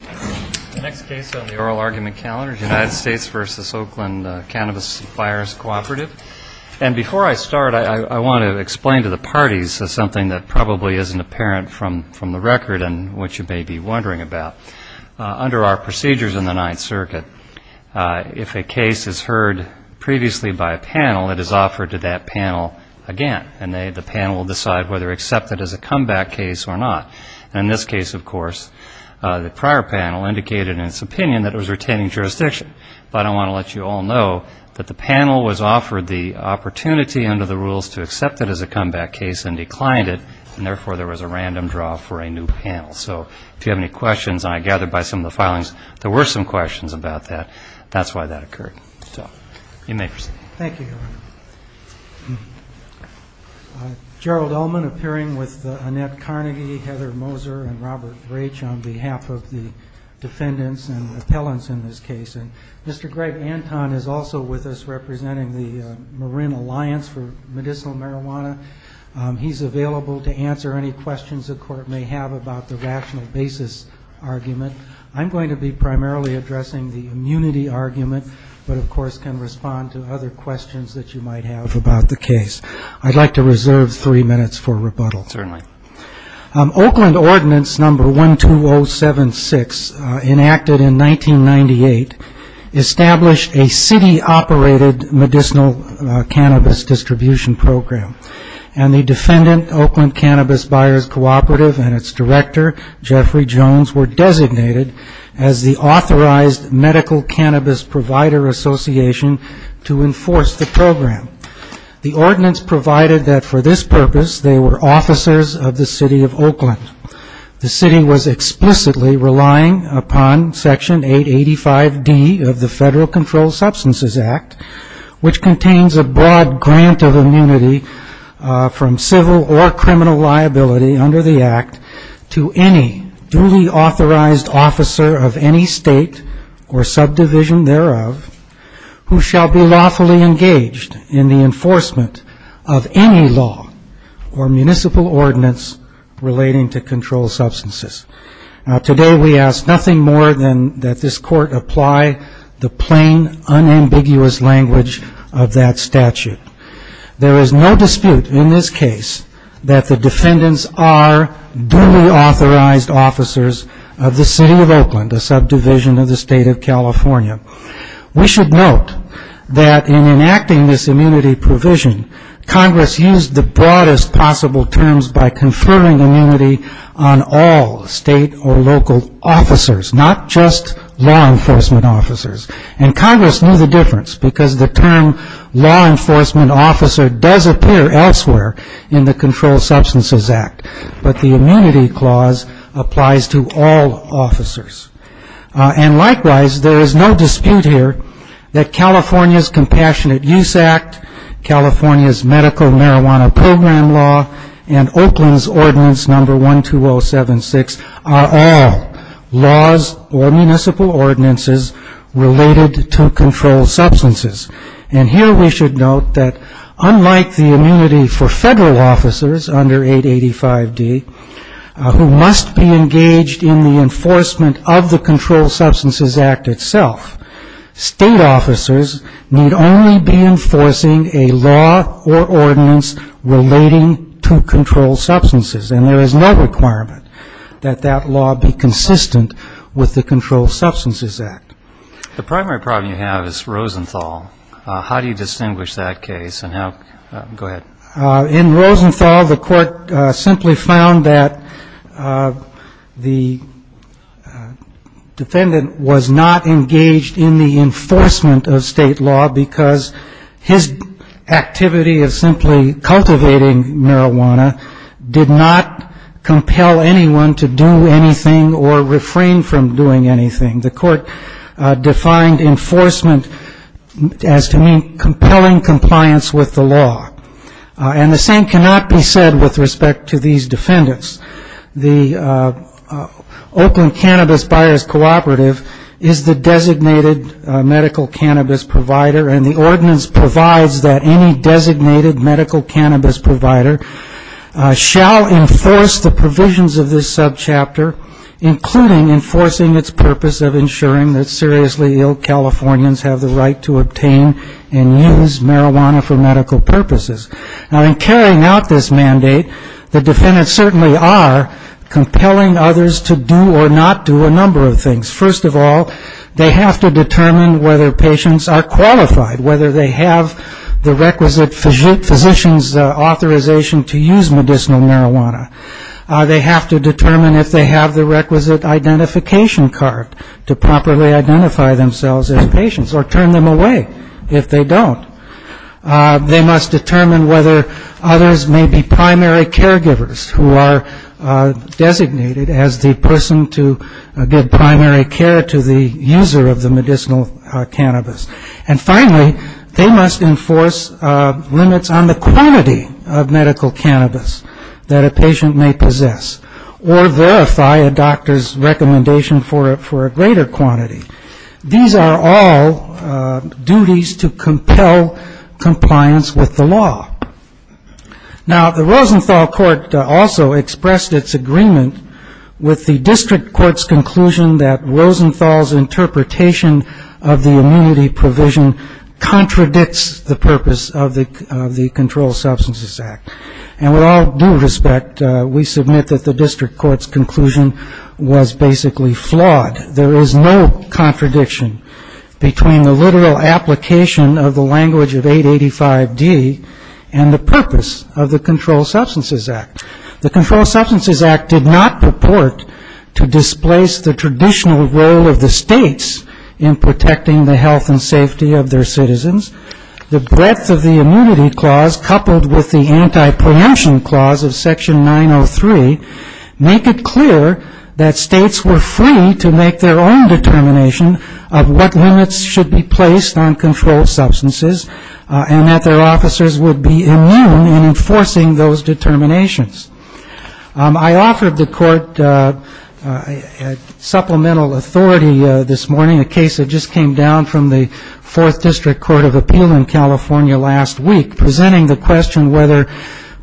the oral argument calendar, the United States v. Oakland Cannabis Fires Cooperative. And before I start I want to explain to the parties something that probably isn't apparent from the record and what you may be wondering about. Under our procedures in the Ninth Circuit, if a case is heard previously by a panel, it is offered to that panel again. And the panel will decide whether to accept it as a comeback case or not. And in this case, of course, the prior panel indicated in its opinion that it was retaining jurisdiction. But I want to let you all know that the panel was offered the opportunity under the rules to accept it as a comeback case and declined it, and therefore there was a random draw for a new panel. So if you have any questions, and I gather by some of the filings there were some questions about that, that's why that occurred. So you may proceed. Thank you, Your Honor. Gerald Ullman appearing with Annette Carnegie, Heather Moser, and Robert Raich on behalf of the defendants and appellants in this case. And Mr. Greg Anton is also with us representing the Marin Alliance for Medicinal Marijuana. He's available to answer any questions the Court may have about the rational basis argument. I'm going to be primarily addressing the immunity questions that you might have about the case. I'd like to reserve three minutes for rebuttal. Oakland Ordinance Number 12076, enacted in 1998, established a city-operated medicinal cannabis distribution program. And the defendant, Oakland Cannabis Buyers Cooperative, and its director, Jeffrey Jones, were designated as the Authorized Medical Cannabis Provider Association to enforce the program. The ordinance provided that for this purpose, they were officers of the city of Oakland. The city was explicitly relying upon Section 885D of the Federal Controlled Substances Act, which contains a broad grant of immunity from civil or criminal liability under the act to any duly authorized officer of any state or subdivision thereof. Who shall be lawfully engaged in the enforcement of any law or municipal ordinance relating to controlled substances. Now, today, we ask nothing more than that this Court apply the plain, unambiguous language of that statute. There is no dispute in this case that the defendants are duly authorized officers of the city of Oakland, a subdivision of the state of California. And they are not unlawfully engaged in the enforcement of any law or municipal ordinance relating to controlled substances. We should note that in enacting this immunity provision, Congress used the broadest possible terms by conferring immunity on all state or local officers, not just law enforcement officers. And Congress knew the difference, because the term law enforcement officer does appear elsewhere in the Controlled Substances Act. But the immunity clause applies to all officers. And likewise, there is no dispute here that the California's Compassionate Use Act, California's Medical Marijuana Program Law, and Oakland's Ordinance No. 12076 are all laws or municipal ordinances related to controlled substances. And here we should note that unlike the immunity for federal officers under 885D, who must be engaged in the enforcement of the Controlled Substances Act itself, state or local law enforcement officers need only be enforcing a law or ordinance relating to controlled substances. And there is no requirement that that law be consistent with the Controlled Substances Act. The primary problem you have is Rosenthal. How do you distinguish that case? And how go ahead. In Rosenthal, the court simply found that the defendant was not engaged in the enforcement of the Controlled Substances Act. And the defendant was not engaged in the enforcement of state law, because his activity of simply cultivating marijuana did not compel anyone to do anything or refrain from doing anything. The court defined enforcement as to mean compelling compliance with the law. And the same cannot be said with respect to these defendants. The Oakland Cannabis Buyers Cooperative is the designated medical marijuana cannabis provider, and the ordinance provides that any designated medical cannabis provider shall enforce the provisions of this subchapter, including enforcing its purpose of ensuring that seriously ill Californians have the right to obtain and use marijuana for medical purposes. Now, in carrying out this mandate, the defendants certainly are compelling others to do or not do a number of things. First of all, they have to determine whether their patients are qualified, whether they have the requisite physician's authorization to use medicinal marijuana. They have to determine if they have the requisite identification card to properly identify themselves as patients or turn them away if they don't. They must determine whether others may be primary caregivers who are designated as the person to give primary care to the user of the medicinal cannabis. And finally, they must enforce limits on the quantity of medical cannabis that a patient may possess or verify a doctor's recommendation for a greater quantity. These are all duties to compel compliance with the law. Now, the Rosenthal Court also expressed its agreement with the district court's conclusion that Rosenthal's interpretation of the immunity provision contradicts the purpose of the Controlled Substances Act. And with all due respect, we submit that the district court's conclusion was basically flawed. There is no contradiction between the literal application of the language of 885D and the purpose of the Controlled Substances Act. The Controlled Substances Act did not purport to displace the traditional role of the states in protecting the health and safety of their citizens. The breadth of the immunity clause coupled with the anti-preemption clause of Section 903 make it clear that states were free to make their own determination of what limits should be placed on controlled substances and that their officers would be immune in enforcing those determinations. I offered the court supplemental authority this morning, a case that just came down from the 4th District Court of Appeal in California last week, presenting the question whether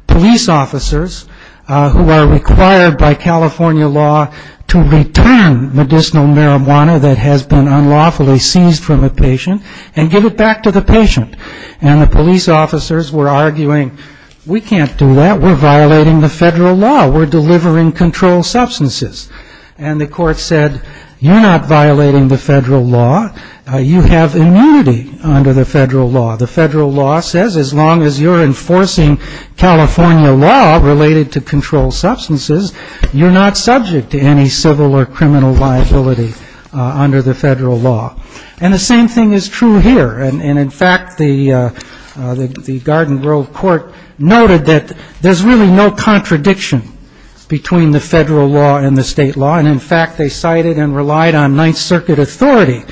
police officers who are required by California law to return medicinal marijuana that has been unlawfully seized from a patient and give it back to the patient. And the police officers were arguing, we can't do that, we're violating the federal law, we're delivering controlled substances. And the court said, you're not violating the federal law, you have immunity under the federal law. The federal law says as long as you're enforcing California law related to controlled substances, you're not subject to any civil or criminal liability under the federal law. And the same thing is true here. And in fact, the Garden Grove Court noted that there's really no need to enforce the federal law. There's no contradiction between the federal law and the state law. And in fact, they cited and relied on Ninth Circuit authority.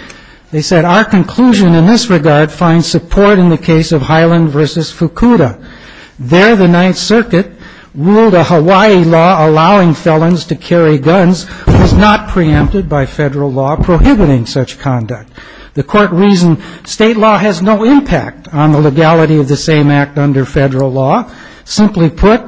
They said, our conclusion in this regard finds support in the case of Highland v. Fukuda. There the Ninth Circuit ruled a Hawaii law allowing felons to carry guns was not preempted by federal law prohibiting such conduct. The court reasoned state law has no impact on legality of the same act under federal law. Simply put,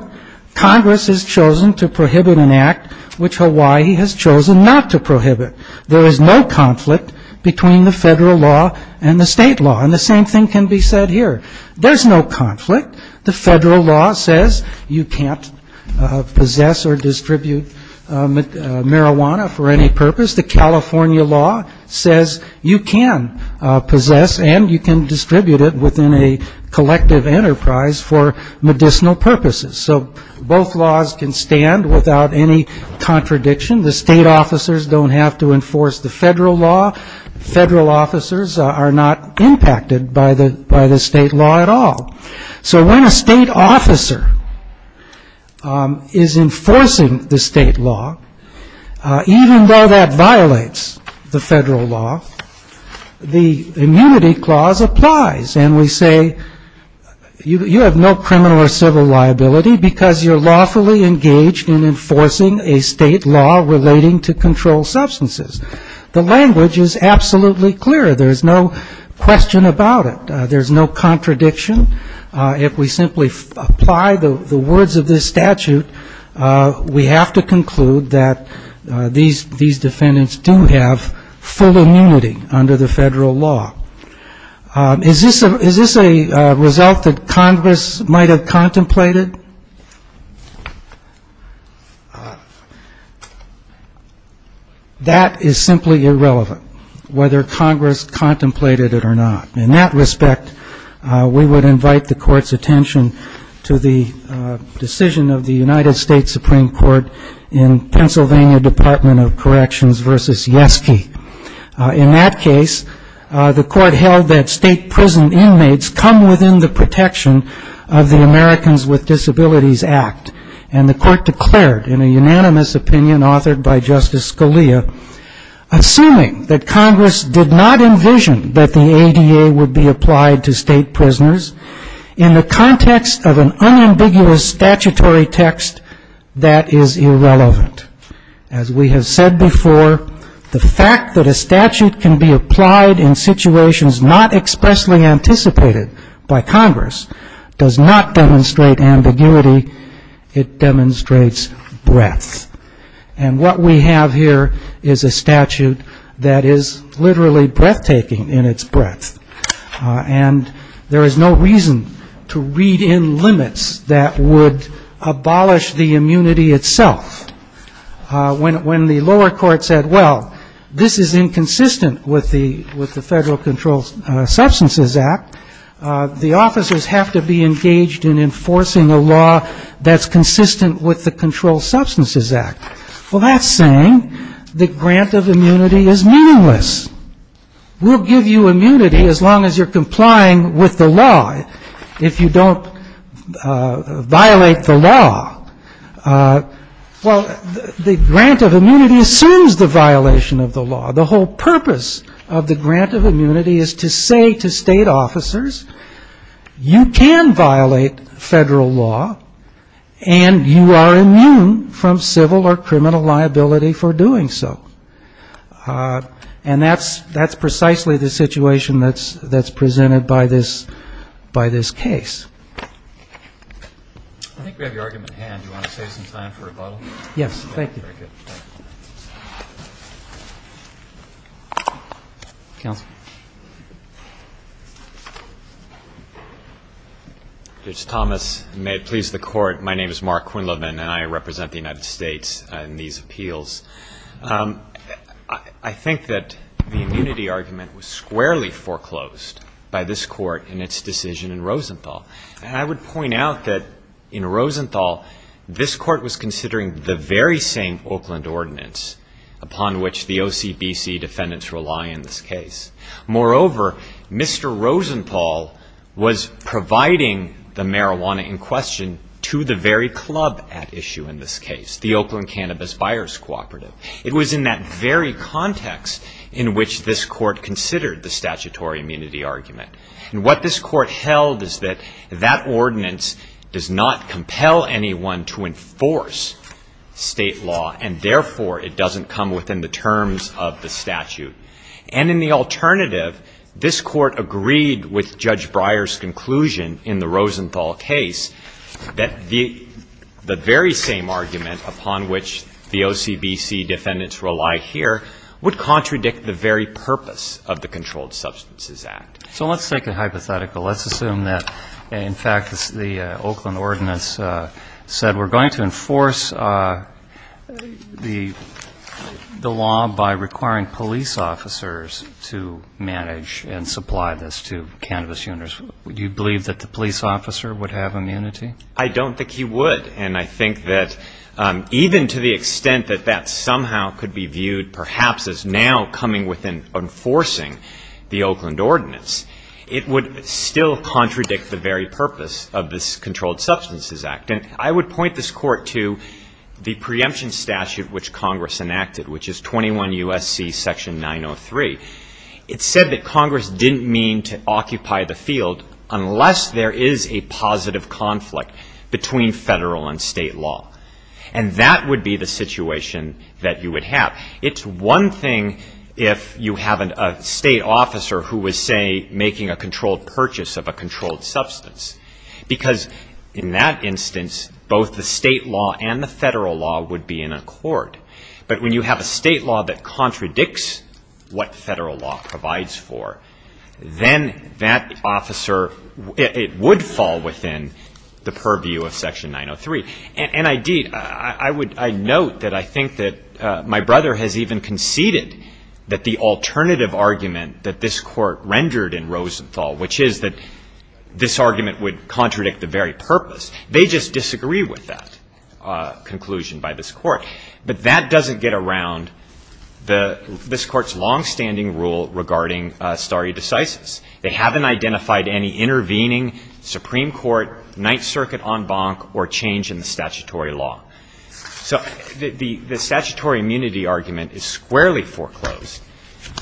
Congress has chosen to prohibit an act which Hawaii has chosen not to prohibit. There is no conflict between the federal law and the state law. And the same thing can be said here. There's no conflict. The federal law says you can't possess or distribute marijuana for any purpose. The California law says you can possess and you can distribute it within a collective enterprise for medicinal purposes. So both laws can stand without any contradiction. The state officers don't have to enforce the federal law. Federal officers are not impacted by the state law at all. So when a state officer is enforcing the state law, even though that violates the federal law, the immunity clause applies. And we say you have no criminal or civil liability because you're lawfully engaged in enforcing a state law relating to controlled substances. The language is absolutely clear. There's no question about it. There's no contradiction. If we simply apply the words of this statute, we have to conclude that these defendants do have full immunity under the federal law. Is this a result that Congress might have contemplated? That is simply irrelevant, whether Congress contemplated it or not. In that respect, we would invite the Court's attention to the decision of the United States Supreme Court in Pennsylvania Department of Corrections v. Justice Yeske. In that case, the Court held that state prison inmates come within the protection of the Americans with Disabilities Act. And the Court declared, in a unanimous opinion authored by Justice Scalia, assuming that Congress did not envision that the ADA would be applied to state prisoners in the context of an unambiguous statutory text, that is irrelevant. As we have said before, the fact that a statute can be applied in situations not expressly anticipated by Congress does not demonstrate ambiguity. It demonstrates breadth. And what we have here is a statute that is literally breathtaking in its breadth. And there is no reason to read in limits that would be applicable to state prisoners. Control Substances Act. When the lower court said, well, this is inconsistent with the Federal Control Substances Act, the officers have to be engaged in enforcing a law that is consistent with the Control Substances Act. Well, that is saying the grant of immunity is meaningless. The grant of immunity assumes the violation of the law. The whole purpose of the grant of immunity is to say to state officers, you can violate Federal law, and you are immune from civil or criminal liability for doing so. And that is precisely the situation that is presented by this case. Thank you. Judge Thomas, may it please the Court, my name is Mark Quinlivan, and I represent the United States in these appeals. I think that the immunity argument was squarely foreclosed by this Court in its decision in Rosenthal. And I would point out that in Rosenthal, this case, it was in the very same Oakland ordinance upon which the OCBC defendants rely in this case. Moreover, Mr. Rosenthal was providing the marijuana in question to the very club at issue in this case, the Oakland Cannabis Buyers Cooperative. It was in that very context in which this Court considered the statutory immunity argument. And what this Court held is that that ordinance does not compel anyone to enforce state law, and therefore it doesn't come within the terms of the statute. And in the alternative, this Court agreed with Judge Breyer's conclusion in the Rosenthal case that the very same argument upon which the OCBC defendants rely here would contradict the very purpose of the Controlled Substances Act. So let's take a hypothetical. Let's assume that, in fact, the Oakland ordinance said we're going to enforce the law by requiring police officers to manage and supply this to cannabis owners. Would you believe that the police officer would have immunity? I don't think he would. And I think that even to the extent that that somehow could be viewed perhaps as now coming within the terms of the statute, it would still contradict the very purpose of this Controlled Substances Act. And I would point this Court to the preemption statute which Congress enacted, which is 21 U.S.C. section 903. It said that Congress didn't mean to occupy the field unless there is a positive conflict between federal and state law. And that would be the situation that you would have. It's one thing if you have a state officer who was, say, making a controlled purchase of a controlled substance. Because in that instance, both the state law and the federal law would be in accord. But when you have a state law that contradicts what federal law provides for, then that officer, it would fall within the purview of section 903. And, indeed, I note that I think that my brother has even conceded that the alternative argument that this Court rendered in Rosenthal, which is that this argument would contradict the very purpose, they just disagree with that conclusion by this Court. But that doesn't get around this Court's longstanding rule regarding stare decisis. They haven't identified any intervening Supreme Court, Ninth Circuit en banc, or change in the statutory law. So the statutory immunity argument is squarely foreclosed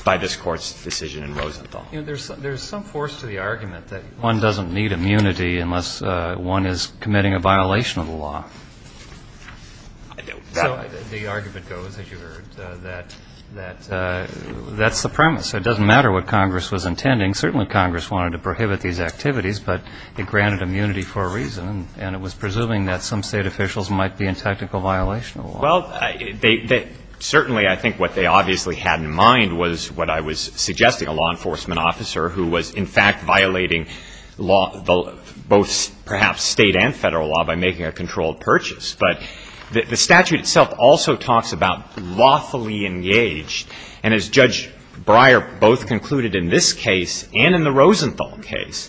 by this Court's decision in Rosenthal. There's some force to the argument that one doesn't need immunity unless one is committing a violation of the law. So the argument goes, as you heard, that that's the premise. It doesn't matter what Congress was intending. Certainly, Congress wanted to prohibit these activities, but it granted immunity for a reason, and it was presuming that some state officials might be in technical violation of the law. Well, certainly, I think what they obviously had in mind was what I was suggesting, a law enforcement officer who was, in fact, violating both perhaps state and federal law by making a controlled purchase. But the statute itself also talks about lawfully engaged. And as Judge Breyer both concluded in this case and in the Rosenthal case,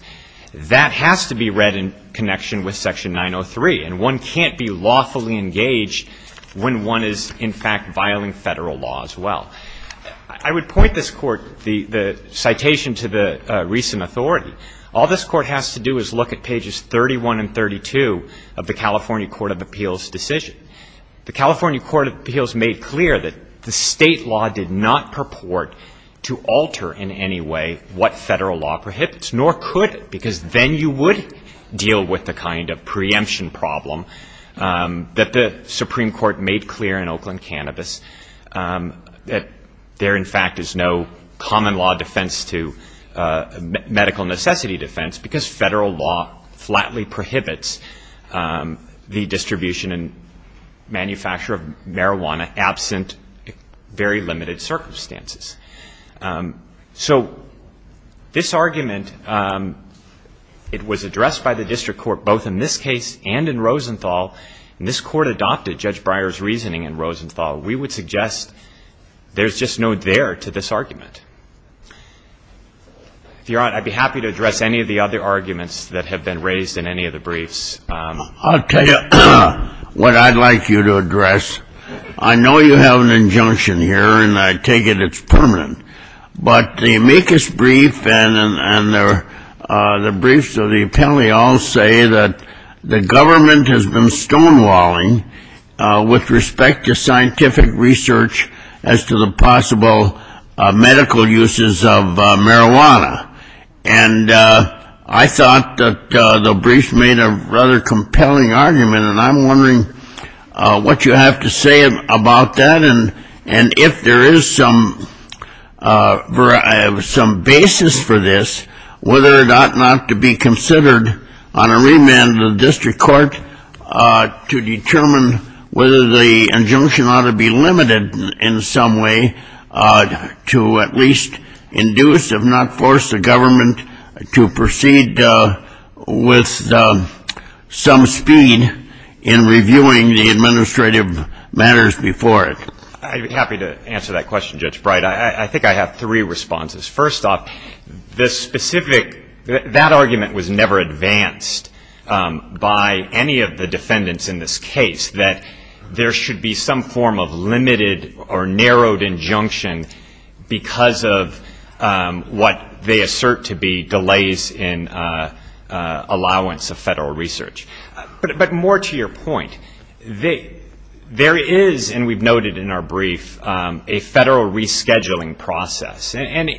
that has to be read in connection with Section 903. And one can't be lawfully engaged when one is, in fact, violating federal law as well. All this Court has to do is look at pages 31 and 32 of the California Court of Appeals decision. The California Court of Appeals made clear that the state law did not purport to alter in any way what federal law prohibited. Nor could it, because then you would deal with the kind of preemption problem that the Supreme Court made clear in Oakland Cannabis, that there, in fact, is no common law defense to medical necessity defense, because federal law flatly prohibits the distribution and manufacture of marijuana absent very limited circumstances. So this argument, it was addressed by the district court both in this case and in Rosenthal, and this Court adopted Judge Breyer's reasoning in Rosenthal. We would suggest there's just no there to this argument. If you're on, I'd be happy to address any of the other arguments that have been raised in any of the briefs. I'll tell you what I'd like you to address. I know you have an injunction here, and I take it it's part of the argument. But the amicus brief and the briefs of the appellee all say that the government has been stonewalling with respect to scientific research as to the possible medical uses of marijuana. And I thought that the briefs made a rather compelling argument, and I'm wondering what you have to say about that, and if there is some basis for this, whether it ought not to be considered on a remand of the district court to determine whether the injunction ought to be limited in some way to at least induce, if not force, the government to proceed with some speed in reviewing the administrative matters before it. I'd be happy to answer that question, Judge Breyer. I think I have three responses. First off, the specific, that argument was never advanced by any of the defendants in this case, that there should be some form of limited or narrowed injunction because of what they assert to be delays in allowance of federal research. But more to your point, there is, and we've noted in our brief, a federal rescheduling process. And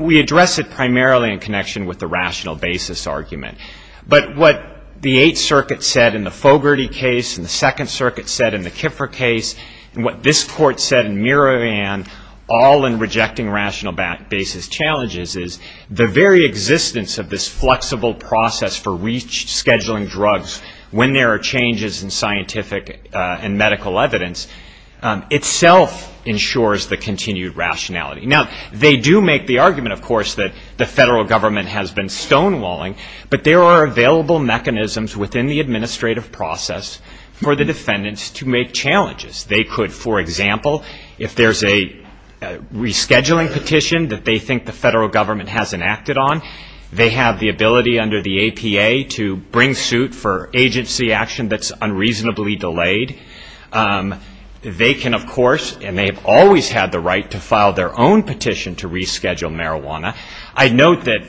we address it primarily in connection with the rational basis argument. But what the Eighth Circuit said in the Fogarty case, and the Second Circuit said in the Kiffer case, and what this court said in Miravan, all in rejecting rational basis challenges, is the very existence of this flexible process for rescheduling drugs is a problem. When there are changes in scientific and medical evidence, itself ensures the continued rationality. Now, they do make the argument, of course, that the federal government has been stonewalling, but there are available mechanisms within the administrative process for the defendants to make challenges. They could, for example, if there's a rescheduling petition that they think the federal government hasn't acted on, they have the right to file their own petition to reschedule marijuana. I note that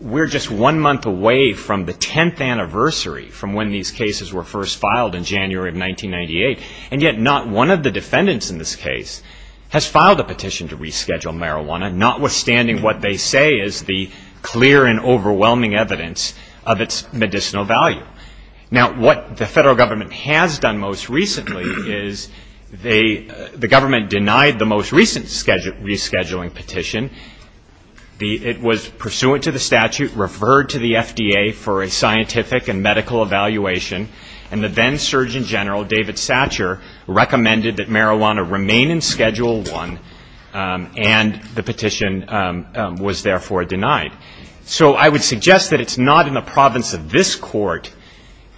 we're just one month away from the 10th anniversary from when these cases were first filed in January of 1998. And yet not one of the defendants in this case has filed a petition to reschedule marijuana, notwithstanding what they say is the clear and overwhelming evidence of its medicinal value. Now, what the federal government has done most recently is the government denied the most recent rescheduling petition. It was pursuant to the statute, referred to the FDA for a scientific and medical evaluation, and the then Surgeon General, David Satcher, recommended that marijuana remain in Schedule I, and the petition was therefore denied. So I would suggest that it's not in the province of this Court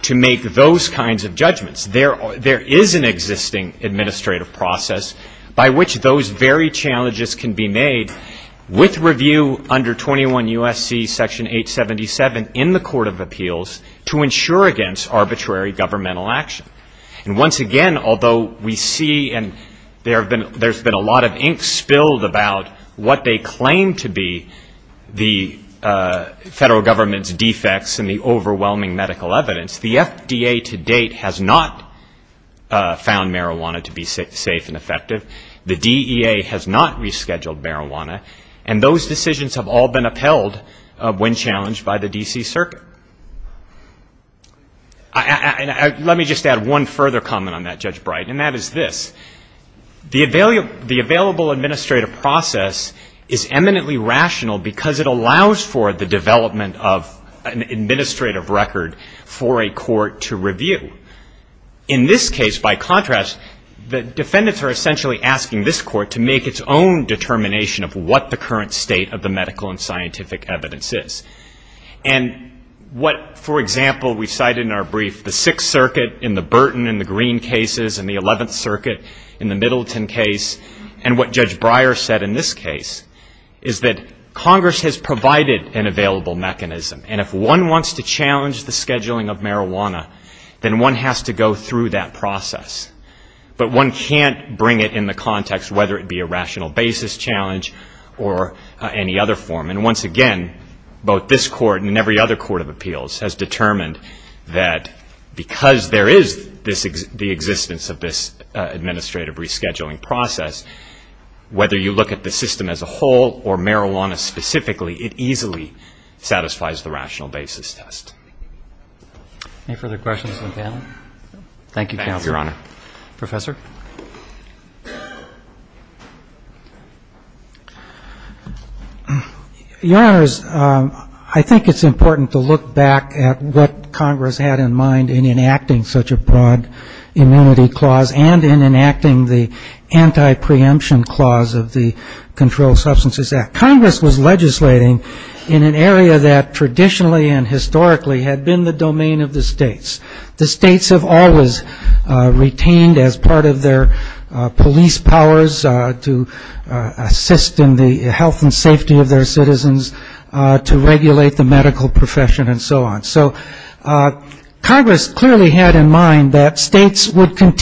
to make those kinds of judgments. There is an existing administrative process by which those very challenges can be made, with review under 21 U.S.C. Section 877 in the Court of Appeals, to ensure against arbitrary governmental action. And once again, although we see and there's been a lot of ink spilled about what they claim to be the most important federal government's defects and the overwhelming medical evidence, the FDA to date has not found marijuana to be safe and effective. The DEA has not rescheduled marijuana, and those decisions have all been upheld when challenged by the D.C. Circuit. Let me just add one further comment on that, Judge Bright, and that is this. The available administrative process is eminently rational because it allows for the development of an administrative record for a court to review. In this case, by contrast, the defendants are essentially asking this Court to make its own determination of what the current state of the medical and scientific evidence is. In the Middleton case, and what Judge Breyer said in this case, is that Congress has provided an available mechanism. And if one wants to challenge the scheduling of marijuana, then one has to go through that process. But one can't bring it in the context, whether it be a rational basis challenge or any other form. And once again, both this Court and every other Court of Appeals has determined that because there is the existence of this administrative rescheduling process, whether you look at the system as a whole or marijuana specifically, it easily satisfies the rational basis test. Your Honors, I think it's important to look back at what Congress had in mind in enacting such a broad amenity clause, and in enacting the anti-preemption clause of the Controlled Substances Act. Congress was legislating in an area that traditionally and historically had been the domain of the states. The states have always retained as part of their police powers to assist in the health and safety of their citizens, to regulate the medical profession, and so on. And Congress was not going to do that. It was not going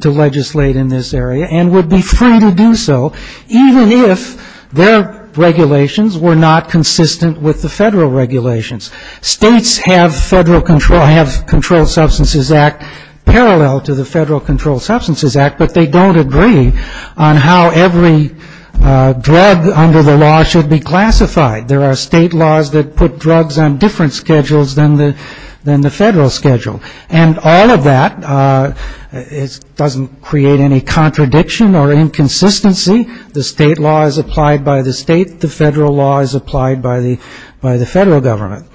to regulate in this area, and would be free to do so, even if their regulations were not consistent with the federal regulations. States have Controlled Substances Act parallel to the Federal Controlled Substances Act, but they don't agree on how every drug under the law should be classified. There are state laws that put drugs on different schedules than the federal schedule. And all of that doesn't create any contradiction or inconsistency. The state law is applied by the state, the federal law is applied by the federal government.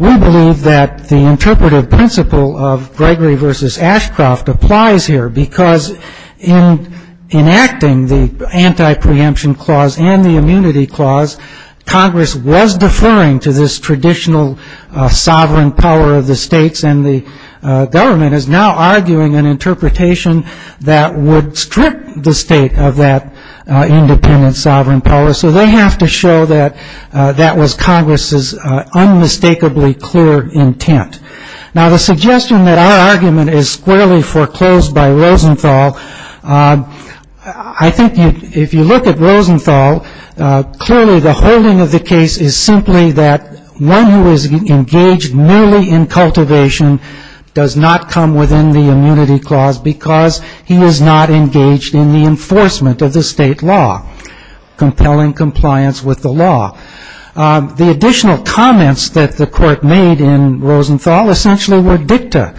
We believe that the interpretive principle of Gregory versus Ashcroft applies here, because in enacting the anti-preemption clause and the anti-independence clause, Congress was deferring to this traditional sovereign power of the states, and the government is now arguing an interpretation that would strip the state of that independent sovereign power. So they have to show that that was Congress's unmistakably clear intent. Now, the suggestion that our argument is squarely foreclosed by Rosenthal, I think if you look at Rosenthal, clearly it's a squarely foreclosed argument. Clearly the holding of the case is simply that one who is engaged merely in cultivation does not come within the immunity clause, because he is not engaged in the enforcement of the state law, compelling compliance with the law. The additional comments that the court made in Rosenthal essentially were dicta,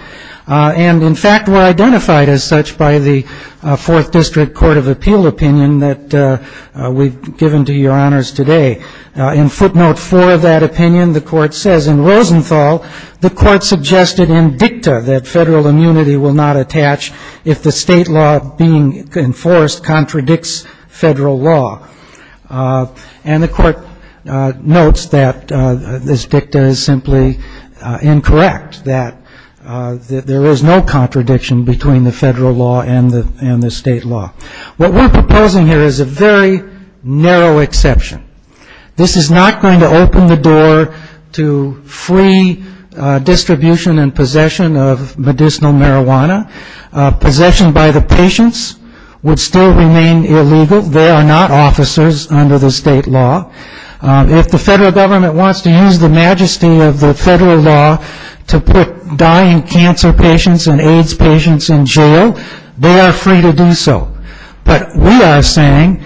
and in fact were identified as such by the Fourth District Court of Appeals today. In footnote four of that opinion, the court says, in Rosenthal, the court suggested in dicta that federal immunity will not attach if the state law being enforced contradicts federal law. And the court notes that this dicta is simply incorrect, that there is no contradiction between the federal law and the state law. What we're proposing here is a very narrow exception. This is not going to open the door to free distribution and possession of medicinal marijuana. Possession by the patients would still remain illegal. They are not officers under the state law. If the federal government wants to use the majesty of the federal law to put dying cancer patients and AIDS patients in jail, they are free to do so. But we are saying,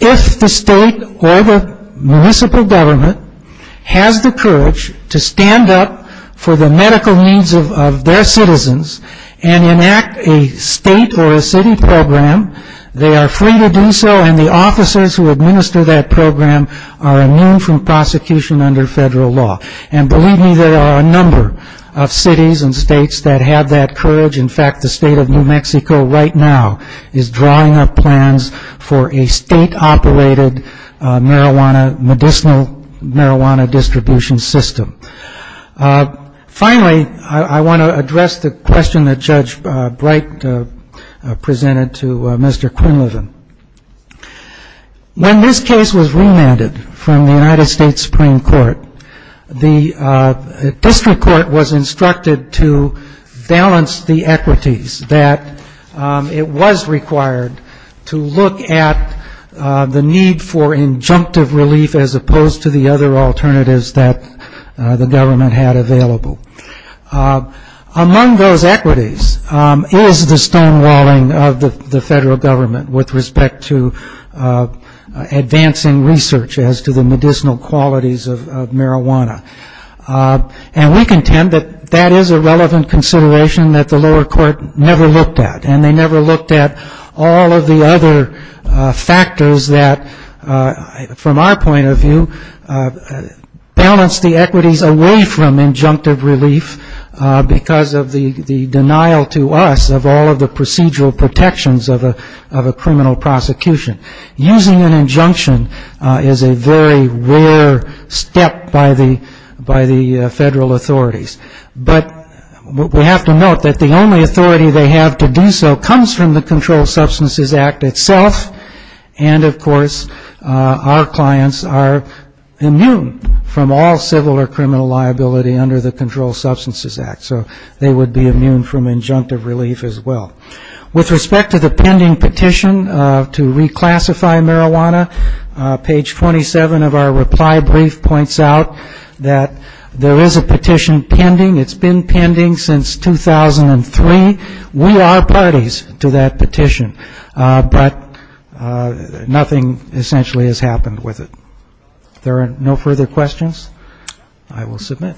if the state or the municipal government has the courage to stand up for the medical needs of their citizens and enact a state or a city program, they are free to do so, and the officers who administer that program are immune from prosecution under federal law. And believe me, there are a number of cities and states that have that courage. In fact, the state of New Mexico right now is drawing up plans for a state-operated medicinal marijuana distribution system. Finally, I want to address the question that Judge Bright presented to Mr. Quinlivan. When this case was remanded from the United States Supreme Court, the district court was instructed to balance the efforts of the federal government with the equities that it was required to look at the need for injunctive relief as opposed to the other alternatives that the government had available. Among those equities is the stonewalling of the federal government with respect to advancing research as to the medicinal qualities of marijuana. And we contend that that is a relevant consideration that the lower court never looked at, and they never looked at all of the other factors that, from our point of view, balance the equities away from injunctive relief because of the denial to us of all of the procedural protections of a criminal prosecution. Using an injunction is a very rare step by the federal authorities. But we have to note that the only authority they have to do so comes from the Controlled Substances Act itself, and, of course, our clients are immune from all civil or criminal liability under the Controlled Substances Act. So they would be immune from injunctive relief as well. With respect to the pending petition to reclassify marijuana, page 27 of our reply brief points out that there is a petition pending. It's been pending since 2003. We are parties to that petition, but nothing essentially has happened with it. If there are no further questions, I will submit.